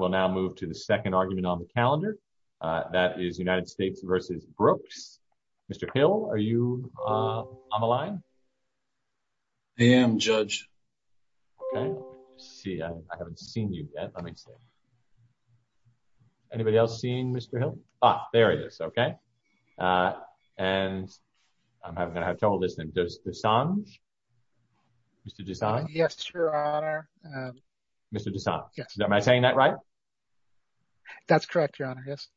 will now move to the second argument on the calendar. That is United States v. Brooks. Mr. Hill, are you on the line? I am, Judge. Okay. Let's see. I haven't seen you yet. Let me see. Anybody else seeing Mr. Hill? Ah, there he is. Okay. And I'm going to have trouble listening. Dessange? Mr. Dessange? Yes, Your Honor. Mr. Dessange? Yes. Am I saying that right? That's correct, Your Honor. Yes.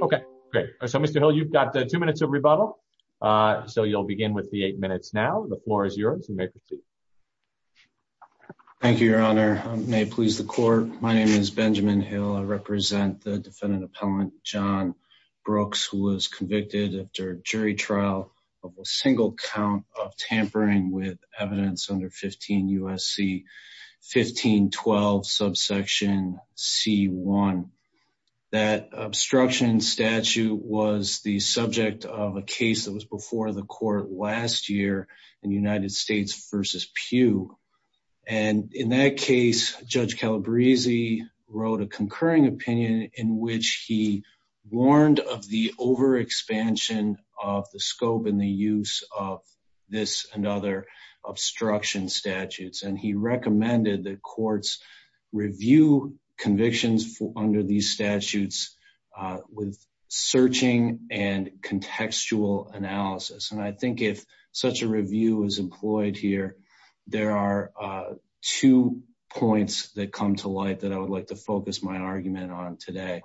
Okay. Great. So, Mr. Hill, you've got two minutes of rebuttal. So, you'll begin with the eight minutes now. The floor is yours. You may proceed. Thank you, Your Honor. May it please the Court. My name is Benjamin Hill. I represent the with evidence under 15 U.S.C. 1512 subsection C.1. That obstruction statute was the subject of a case that was before the Court last year in United States v. Pew. And in that case, Judge Calabresi wrote a concurring opinion in which he warned of the overexpansion of the scope and the use of this and other obstruction statutes. And he recommended that courts review convictions under these statutes with searching and contextual analysis. And I think if such a review is employed here, there are two points that come to light that I would like to focus my argument on today.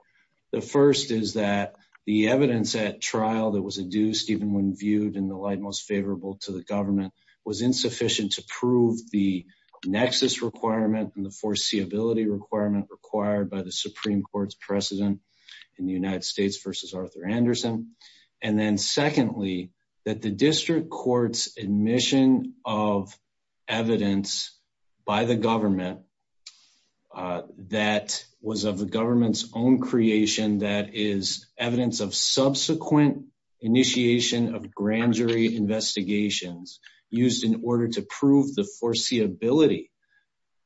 The first is that the evidence at trial that was adduced even when viewed in the light most favorable to the government was insufficient to prove the nexus requirement and the foreseeability requirement required by the Supreme Court's precedent in the United States v. Arthur Anderson. And then secondly, that the district court's admission of evidence by the government that was of the government's own creation that is evidence of subsequent initiation of grand jury investigations used in order to prove the foreseeability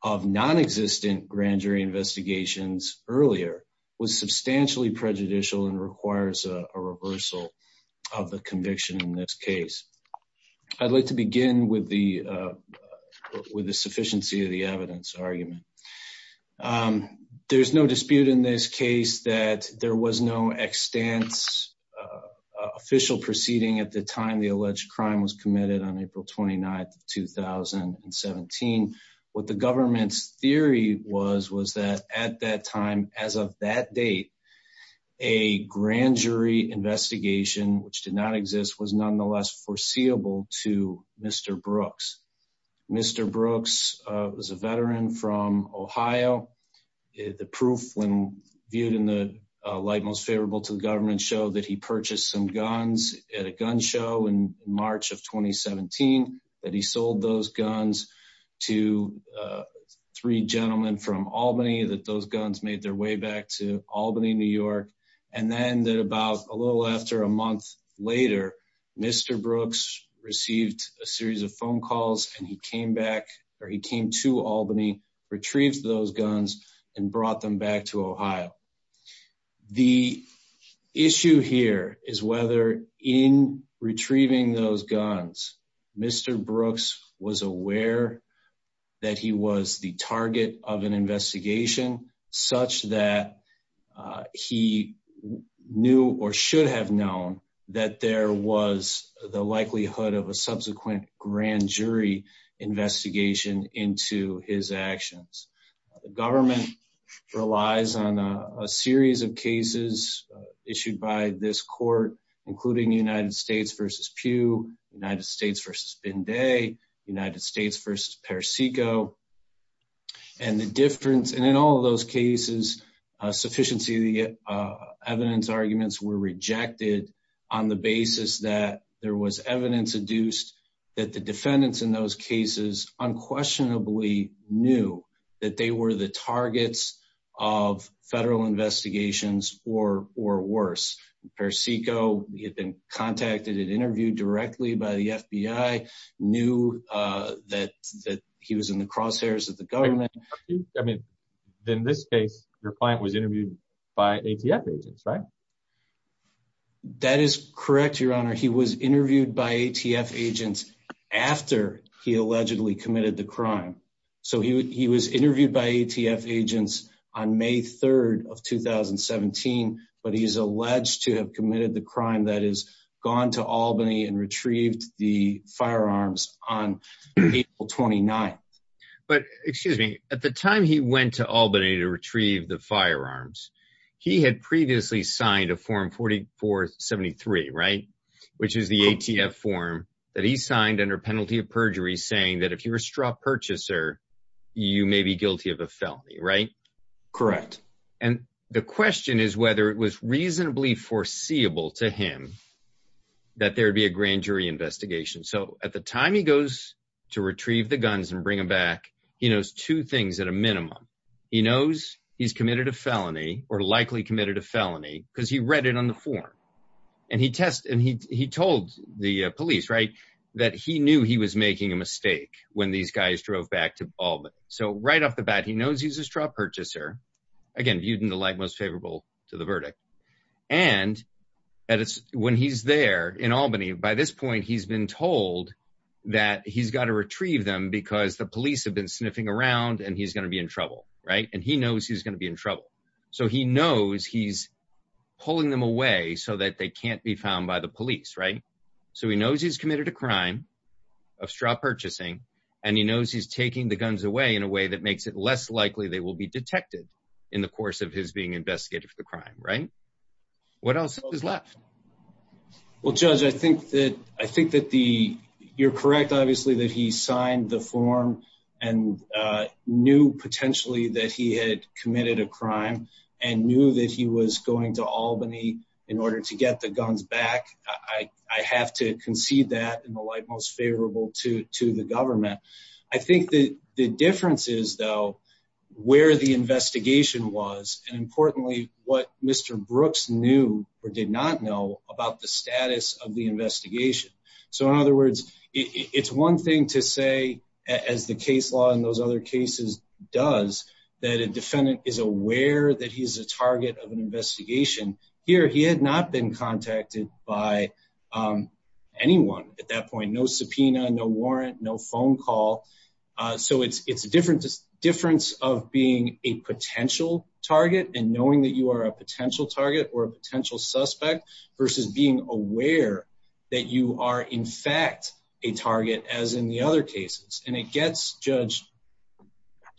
of non-existent grand jury investigations earlier was substantially prejudicial and with the sufficiency of the evidence argument. There's no dispute in this case that there was no extant official proceeding at the time the alleged crime was committed on April 29, 2017. What the government's theory was, was that at that time, as of that date, a grand jury investigation which did not exist was nonetheless foreseeable to Mr. Brooks. Mr. Brooks was a veteran from Ohio. The proof when viewed in the light most favorable to the government show that he purchased some guns at a gun show in March of 2017, that he sold those guns to three gentlemen from Albany, that those guns made their way back to Albany, New York. And then that about a little after a month later, Mr. Brooks received a series of phone calls and he came back or he came to Albany, retrieved those guns and brought them back to Ohio. The issue here is whether in retrieving those guns, Mr. Brooks was aware that he was the target of an investigation such that he knew or should have known that there was the likelihood of a subsequent grand jury investigation into his actions. The government relies on a series of cases issued by this court, including United States v. Pew, United States v. Binday, United States v. Pericico. And the difference, in all of those cases, sufficiency evidence arguments were rejected on the basis that there was evidence adduced that the defendants in those cases unquestionably knew that they were the targets of federal investigations or worse. Pericico had been contacted and interviewed by the FBI, knew that he was in the crosshairs of the government. In this case, your client was interviewed by ATF agents, right? That is correct, your honor. He was interviewed by ATF agents after he allegedly committed the crime. So he was interviewed by ATF agents on May 3rd of 2017, but he's alleged to have committed the crime that is gone to Albany and retrieved the firearms on April 29th. But, excuse me, at the time he went to Albany to retrieve the firearms, he had previously signed a form 4473, right? Which is the ATF form that he signed under penalty of perjury saying that if you're a straw purchaser, you may be guilty of a felony, right? Correct. And the question is whether it was possible to him that there'd be a grand jury investigation. So at the time he goes to retrieve the guns and bring them back, he knows two things at a minimum. He knows he's committed a felony or likely committed a felony because he read it on the form. And he told the police, right, that he knew he was making a mistake when these guys drove back to Albany. So right off the bat, he knows he's a straw purchaser, again, viewed in the light most favorable to the verdict. And when he's there in Albany, by this point, he's been told that he's got to retrieve them because the police have been sniffing around and he's going to be in trouble, right? And he knows he's going to be in trouble. So he knows he's pulling them away so that they can't be found by the police, right? So he knows he's committed a crime of straw purchasing, and he knows he's taking the guns away in a way that will be detected in the course of his being investigated for the crime, right? What else is left? Well, Judge, I think that you're correct, obviously, that he signed the form and knew potentially that he had committed a crime and knew that he was going to Albany in order to get the guns back. I have to concede that in the light most favorable to the government. I think that the difference is, though, where the investigation was, and importantly, what Mr. Brooks knew or did not know about the status of the investigation. So in other words, it's one thing to say, as the case law in those other cases does, that a defendant is aware that he's a target of an investigation. Here, he had not been contacted by anyone at that point. No subpoena, no warrant, no phone call. So it's a difference of being a potential target and knowing that you are a potential target or a potential suspect versus being aware that you are, in fact, a target as in the other cases. And it gets, Judge,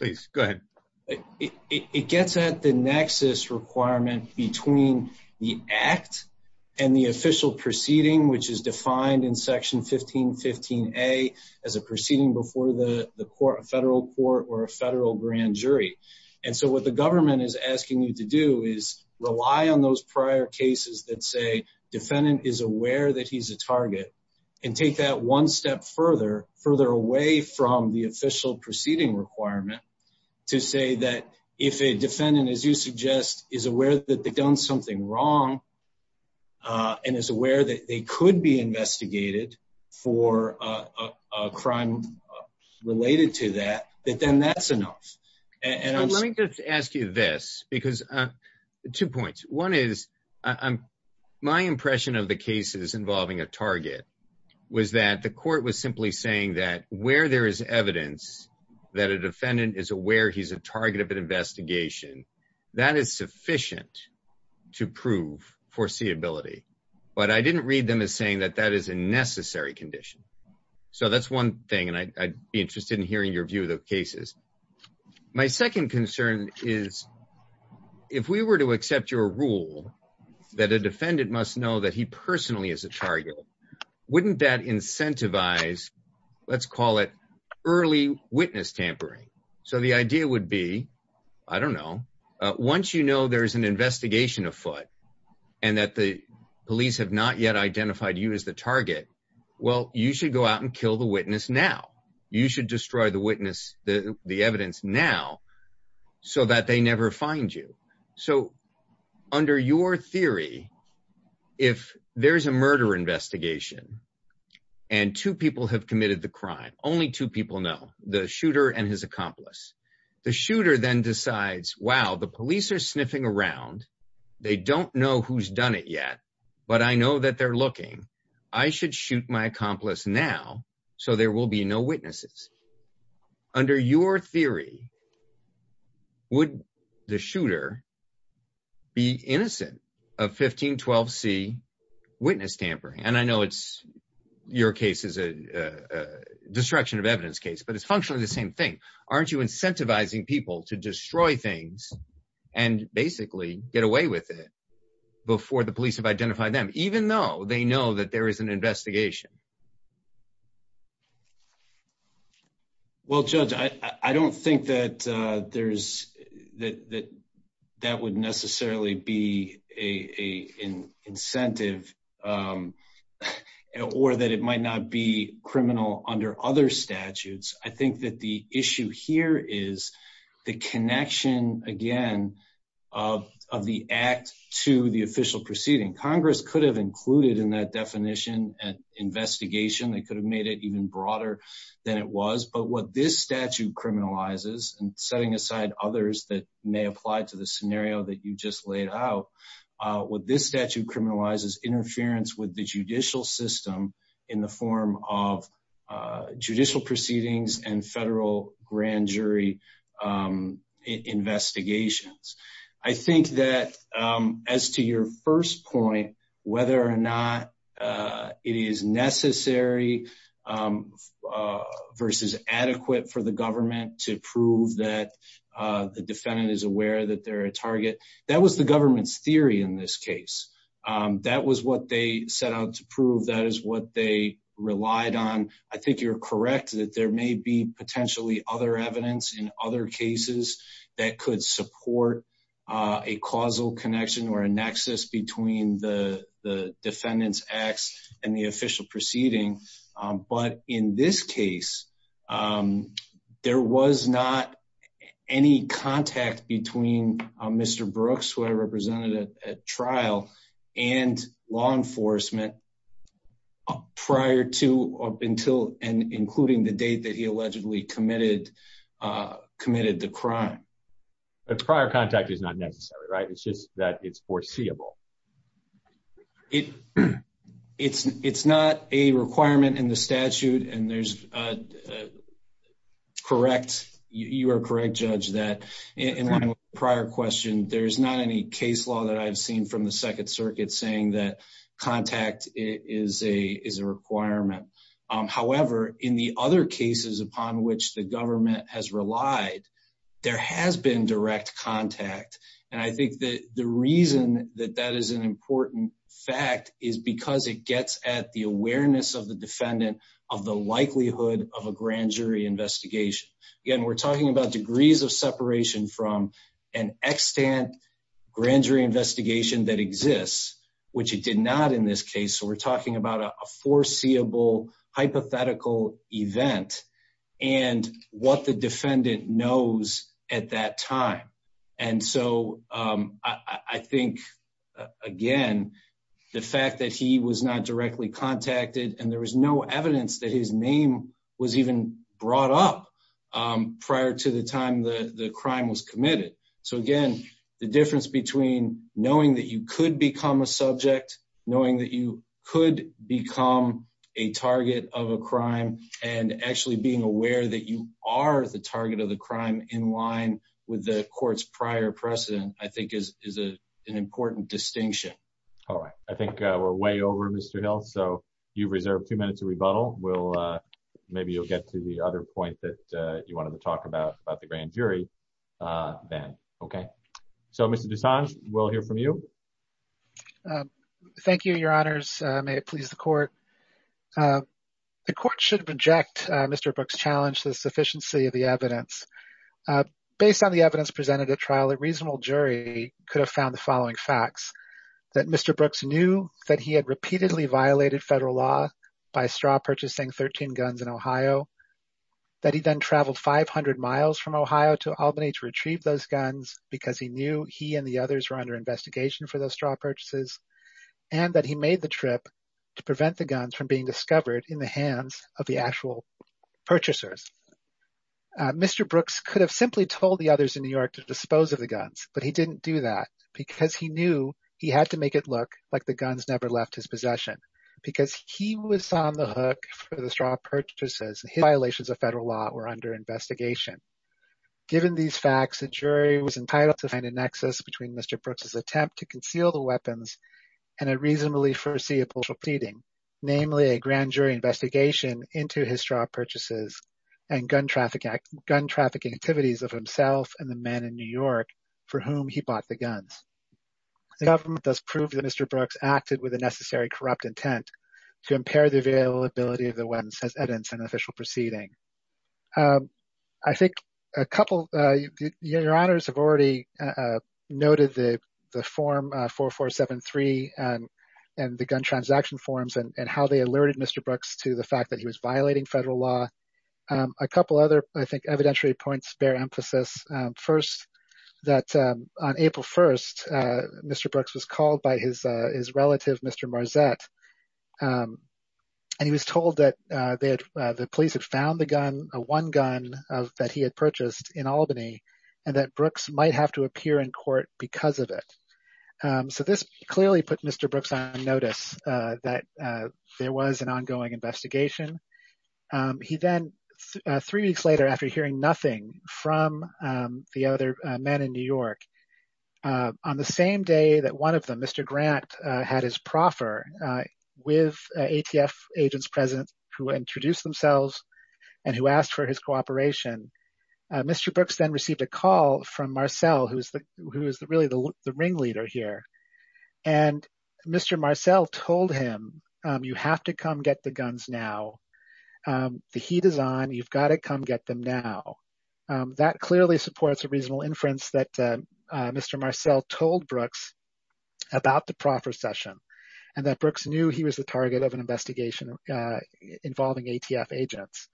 it gets at the nexus requirement between the federal court or a federal grand jury. And so what the government is asking you to do is rely on those prior cases that say defendant is aware that he's a target and take that one step further, further away from the official proceeding requirement, to say that if a defendant, as you suggest, is aware that they've done something wrong and is aware that they could be investigated for a crime related to that, that then that's enough. And I'm... Let me just ask you this, because two points. One is my impression of the cases involving a target was that the court was simply saying that where there is evidence that a defendant is aware he's a target of an investigation, that is sufficient to prove foreseeability. But I didn't read them saying that that is a necessary condition. So that's one thing, and I'd be interested in hearing your view of the cases. My second concern is if we were to accept your rule that a defendant must know that he personally is a target, wouldn't that incentivize, let's call it early witness tampering? So the idea would be, I don't know, once you know there's an investigation afoot and that the police have not yet identified you as the target, well, you should go out and kill the witness now. You should destroy the witness, the evidence now, so that they never find you. So under your theory, if there's a murder investigation and two people have committed the crime, only two people know, the shooter and his accomplice, the shooter then decides, wow, the police are sniffing around. They don't know who's done it yet, but I know that they're looking. I should shoot my accomplice now, so there will be no witnesses. Under your theory, would the shooter be innocent of 1512c witness tampering? And I know your case is a destruction of evidence case, but it's functionally the same thing. Aren't you incentivizing people to destroy things and basically get away with it before the police have identified them, even though they know that there is an investigation? Well, Judge, I don't think that would necessarily be an incentive or that it might not be criminal under other statutes. I think that the issue here is the connection, again, of the act to the official proceeding. Congress could have included in that definition an investigation. They could have made it even broader than it was, but what this statute criminalizes, and setting aside others that may apply to the scenario that you just laid out, what this statute criminalizes interference with the judicial system in the form of judicial proceedings and federal grand jury investigations. I think that as to your first point, whether or not it is necessary versus adequate for the government to prove that the defendant is aware that they're a target, that was the government's theory in this case. That was what they set out to prove. That is what they relied on. I think you're correct that there may be potentially other evidence in other cases that could support a causal connection or a nexus between the defendant's acts and the official proceeding. But in this case, there was not any contact between Mr. Brooks, who I represented at trial, and law enforcement prior to, up until, and including the date that he allegedly committed the crime. Prior contact is not necessary, right? It's just that it's foreseeable. It's not a requirement in the statute, and there's a correct, you are correct, there's not any case law that I've seen from the second circuit saying that contact is a requirement. However, in the other cases upon which the government has relied, there has been direct contact. And I think that the reason that that is an important fact is because it gets at the awareness of the defendant of the likelihood of a grand jury investigation. Again, we're talking about degrees of separation from an extant grand jury investigation that exists, which it did not in this case. So we're talking about a foreseeable hypothetical event and what the defendant knows at that time. And so I think, again, the fact that he was not directly contacted and there was no brought up prior to the time the crime was committed. So again, the difference between knowing that you could become a subject, knowing that you could become a target of a crime, and actually being aware that you are the target of the crime in line with the court's prior precedent, I think is an important distinction. All right. I think we're way over, Mr. Hill. So you've the other point that you wanted to talk about the grand jury then. Okay. So, Mr. Dessange, we'll hear from you. Thank you, your honors. May it please the court. The court should reject Mr. Brooks' challenge to the sufficiency of the evidence. Based on the evidence presented at trial, a reasonable jury could have found the following facts. That Mr. Brooks knew that he had repeatedly violated federal law by straw purchasing 13 guns in Ohio, that he then traveled 500 miles from Ohio to Albany to retrieve those guns because he knew he and the others were under investigation for those straw purchases, and that he made the trip to prevent the guns from being discovered in the hands of the actual purchasers. Mr. Brooks could have simply told the others in New York to dispose of the guns, but he didn't do that because he knew he had to make it look like the guns never left his possession because he was on the hook for the straw purchases. His violations of federal law were under investigation. Given these facts, a jury was entitled to find a nexus between Mr. Brooks' attempt to conceal the weapons and a reasonably foreseeable proceeding, namely a grand jury investigation into his straw purchases and gun trafficking activities of himself and the men in New York for whom he bought the guns. The government does prove that Mr. Brooks acted with a necessary corrupt intent to impair the availability of the weapons as evidence in an official proceeding. I think a couple of your honors have already noted the form 4473 and the gun transaction forms and how they alerted Mr. Brooks to the fact that he was violating federal law. A couple other, I think, evidentiary points bear emphasis. First, that on April 1st, Mr. Brooks was called by his relative, Mr. Marzett, and he was told that the police had found the gun, one gun, that he had purchased in Albany and that Brooks might have to appear in court because of it. So this clearly put Mr. Brooks on notice that there was an ongoing investigation. He then, three weeks later after hearing nothing from the other men in New York, on the same day that one of them, Mr. Grant, had his proffer with ATF agents present who introduced themselves and who asked for his cooperation, Mr. Brooks then received a call from Marcel, who is really the ringleader here. And Mr. Marcel told him, you have to come get the guns now. The heat is on. You've got to come get them now. That clearly supports a reasonable inference that Mr. Marcel told Brooks about the proffer session and that Brooks knew he was the target of an investigation involving ATF agents.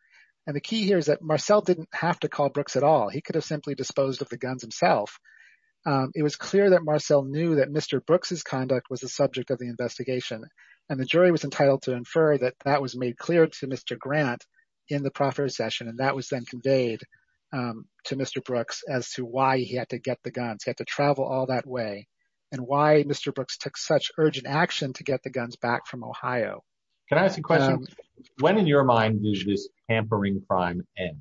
And the key here is that Marcel didn't have to call Brooks at all. He could have simply disposed of the guns himself. It was clear that Marcel knew that Mr. Brooks' conduct was the subject of the investigation. And the jury was entitled to infer that that was made clear to Mr. Grant in the proffer session. And that was then conveyed to Mr. Brooks as to why he had to get the guns. He had to travel all that way and why Mr. Brooks took such urgent action to get the guns back from Ohio. Can I ask a question? When in your mind did this tampering crime end?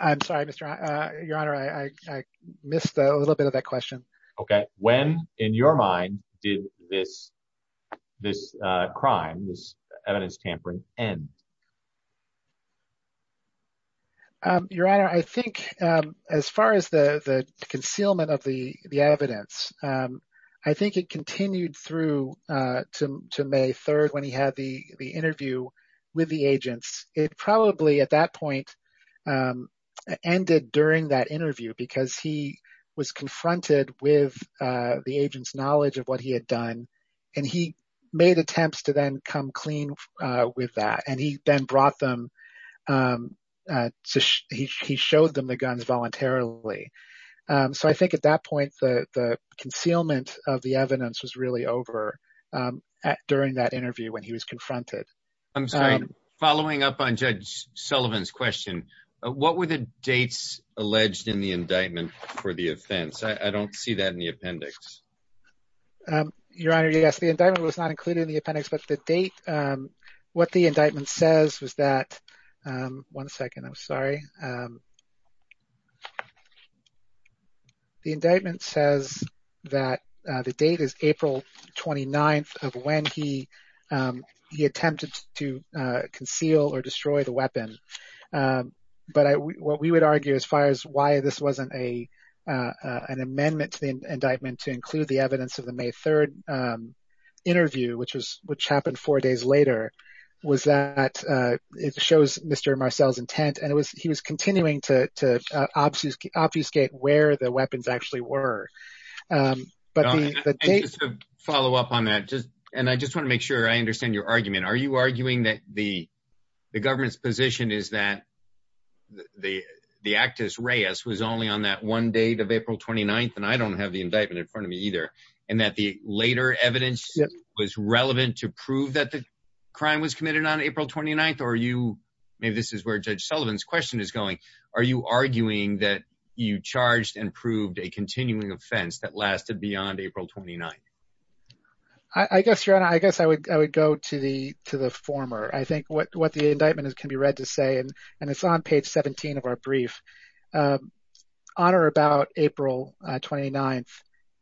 I'm sorry, Mr. Grant. Your Honor, I missed a little bit of that question. Okay. When in your mind did this crime, this evidence tampering end? Your Honor, I think as far as the concealment of the evidence, I think it continued through to May 3rd when he had the interview with the agents. It probably at that point ended during that interview because he was confronted with the agent's knowledge of what he had done. And he made attempts to then come clean with that. And he then brought them up. He showed them the guns voluntarily. So I think at that point, the concealment of the evidence was really over during that interview when he was confronted. I'm sorry, following up on Judge Sullivan's question, what were the dates alleged in the indictment for the offense? I don't see that in the appendix. Your Honor, yes, the indictment was not included in the appendix. But the date, what the indictment says was that, one second, I'm sorry. The indictment says that the date is April 29th of when he attempted to conceal or destroy the weapon. But what we would argue as far as why this wasn't an amendment to the indictment to later was that it shows Mr. Marcel's intent. And he was continuing to obfuscate where the weapons actually were. But the date... Your Honor, just to follow up on that, and I just want to make sure I understand your argument. Are you arguing that the government's position is that the act as Reyes was only on that one date of April 29th, and I don't have the indictment in front of me either, and that the later evidence was relevant to prove that crime was committed on April 29th? Or are you... Maybe this is where Judge Sullivan's question is going. Are you arguing that you charged and proved a continuing offense that lasted beyond April 29th? I guess, Your Honor, I guess I would go to the former. I think what the indictment can be read to say, and it's on page 17 of our brief, on or about April 29th,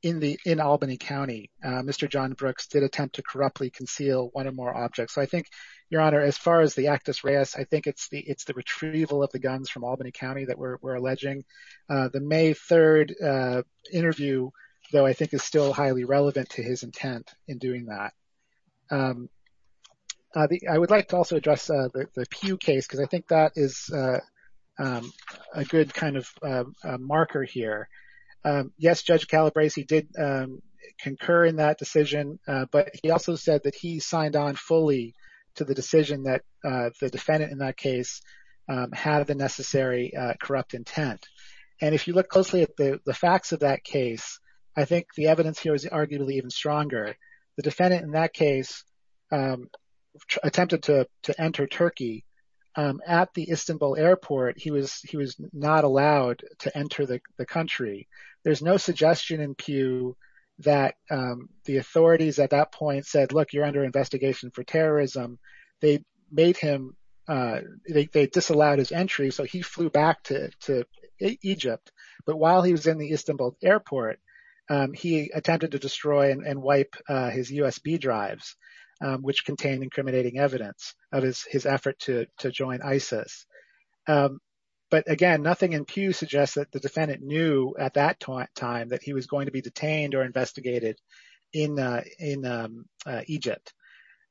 in Albany County, Mr. John Brooks did attempt to corruptly conceal one or more objects. So I think, Your Honor, as far as the act as Reyes, I think it's the retrieval of the guns from Albany County that we're alleging. The May 3rd interview, though, I think is still highly relevant to his intent in doing that. I would like to also address the Pew case, because I think that is a good kind of marker here. Yes, Judge Calabresi did concur in that decision, but he also said that he signed on fully to the decision that the defendant in that case had the necessary corrupt intent. And if you look closely at the facts of that case, I think the evidence here is arguably even stronger. The defendant in that case attempted to enter Turkey. At the Istanbul airport, he was not allowed to enter the country. There's no suggestion in Pew that the authorities at that point said, look, you're under investigation for terrorism. They disallowed his entry, so he flew back to Egypt. But while he was in the Istanbul airport, he attempted to destroy and wipe his USB drives, which contained incriminating evidence of his effort to join ISIS. But again, nothing in Pew suggests that the defendant knew at that time that he was going to be detained or investigated in Egypt.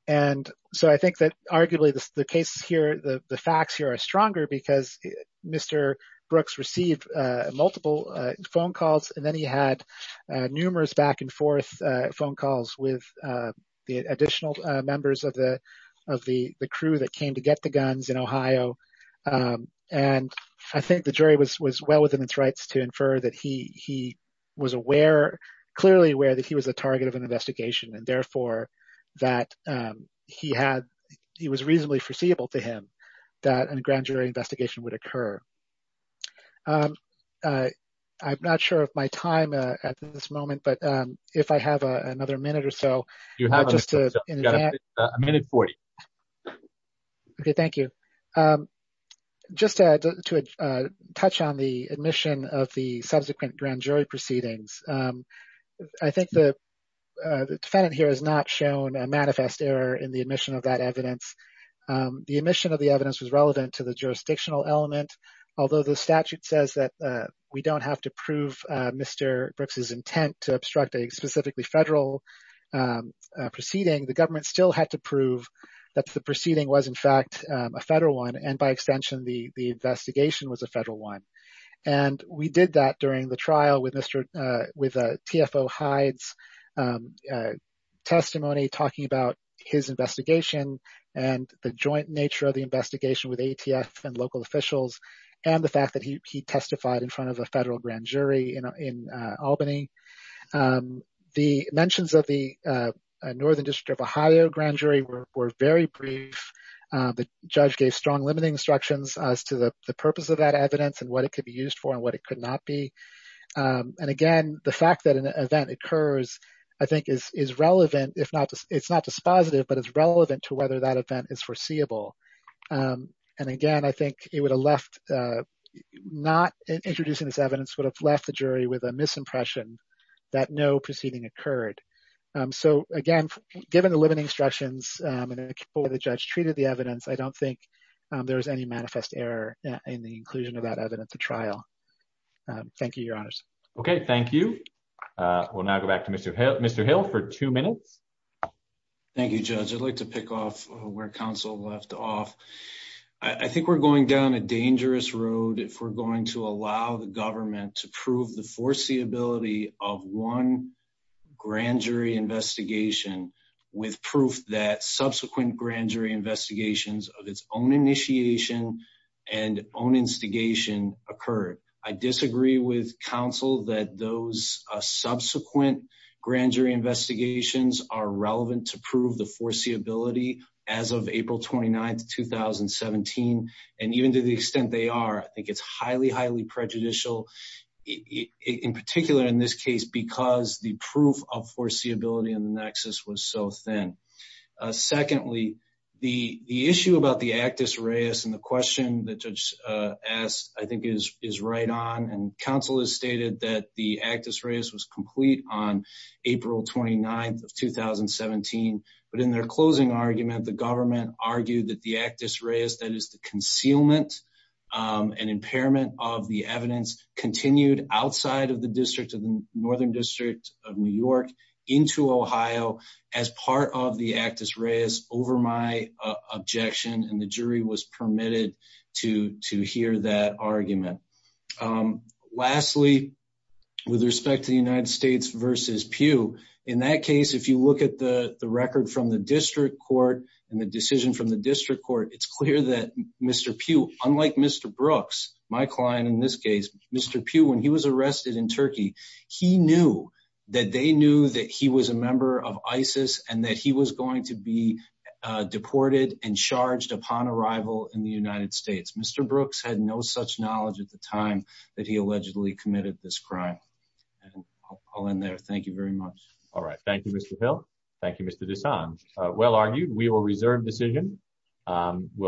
And so I think that arguably the cases here, the facts here are stronger because Mr. Brooks received multiple phone calls, and then he had numerous back and forth phone calls with the additional members of the crew that came to get the guns in Ohio. And I think the jury was well within its rights to infer that he was aware, clearly aware that he was the target of an investigation, and therefore that he was reasonably foreseeable to him that a grand jury investigation would occur. I'm not sure of my time at this moment, but if I have another minute or You have a minute 40. Okay, thank you. Just to touch on the admission of the subsequent grand jury proceedings. I think the defendant here has not shown a manifest error in the admission of that evidence. The admission of the evidence was relevant to the jurisdictional element, although the statute says that we don't have to prove Mr. Brooks's intent to obstruct a proceeding, the government still had to prove that the proceeding was in fact a federal one, and by extension, the investigation was a federal one. And we did that during the trial with Mr. with TFO Hyde's testimony talking about his investigation, and the joint nature of the investigation with ATF and local officials, and the fact that he testified in front of a federal grand jury in Albany. The mentions of the Northern District of Ohio grand jury were very brief. The judge gave strong limiting instructions as to the purpose of that evidence and what it could be used for and what it could not be. And again, the fact that an event occurs, I think is relevant, if not, it's not dispositive, but it's relevant to whether that event is foreseeable. And again, I think it would have left, not introducing this evidence would have left the jury with a misimpression that no proceeding occurred. So again, given the limiting instructions and the way the judge treated the evidence, I don't think there was any manifest error in the inclusion of that evidence to trial. Thank you, your honors. Okay, thank you. We'll now go back to Mr. Hill for two minutes. Thank you, judge. I'd like to pick off where counsel left off. I think we're going down a dangerous road if we're going to allow the government to prove the foreseeability of one grand jury investigation with proof that subsequent grand jury investigations of its own initiation and own instigation occurred. I disagree with counsel that those subsequent grand jury investigations are relevant to prove the foreseeability as of April 29th, 2017. And even to the extent they are, I think it's highly, highly prejudicial in particular in this case, because the proof of foreseeability and the nexus was so thin. Secondly, the issue about the actus reus and the question that judge asked, I think is right on. And counsel has stated that the actus reus was complete on April 29th of 2017. But in their closing argument, the government argued that the actus reus, that is the concealment and impairment of the evidence continued outside of the district of the Northern District of New York into Ohio as part of the actus reus over my objection. And the jury was permitted to hear that argument. Lastly, with respect to the United States versus Pew, in that case, if you look at the record from the district court and the decision from the district court, it's clear that Mr. Pew, unlike Mr. Brooks, my client in this case, Mr. Pew, when he was arrested in Turkey, he knew that they knew that he was a member of ISIS and that he was going to be deported and charged upon arrival in the United States. Mr. Brooks had no such knowledge at the time that he allegedly committed this crime. And I'll end there. Thank you very much. All right. Thank you, Mr. Hill. Thank you, Mr. DeSange. Well argued. We will reserve decision. We'll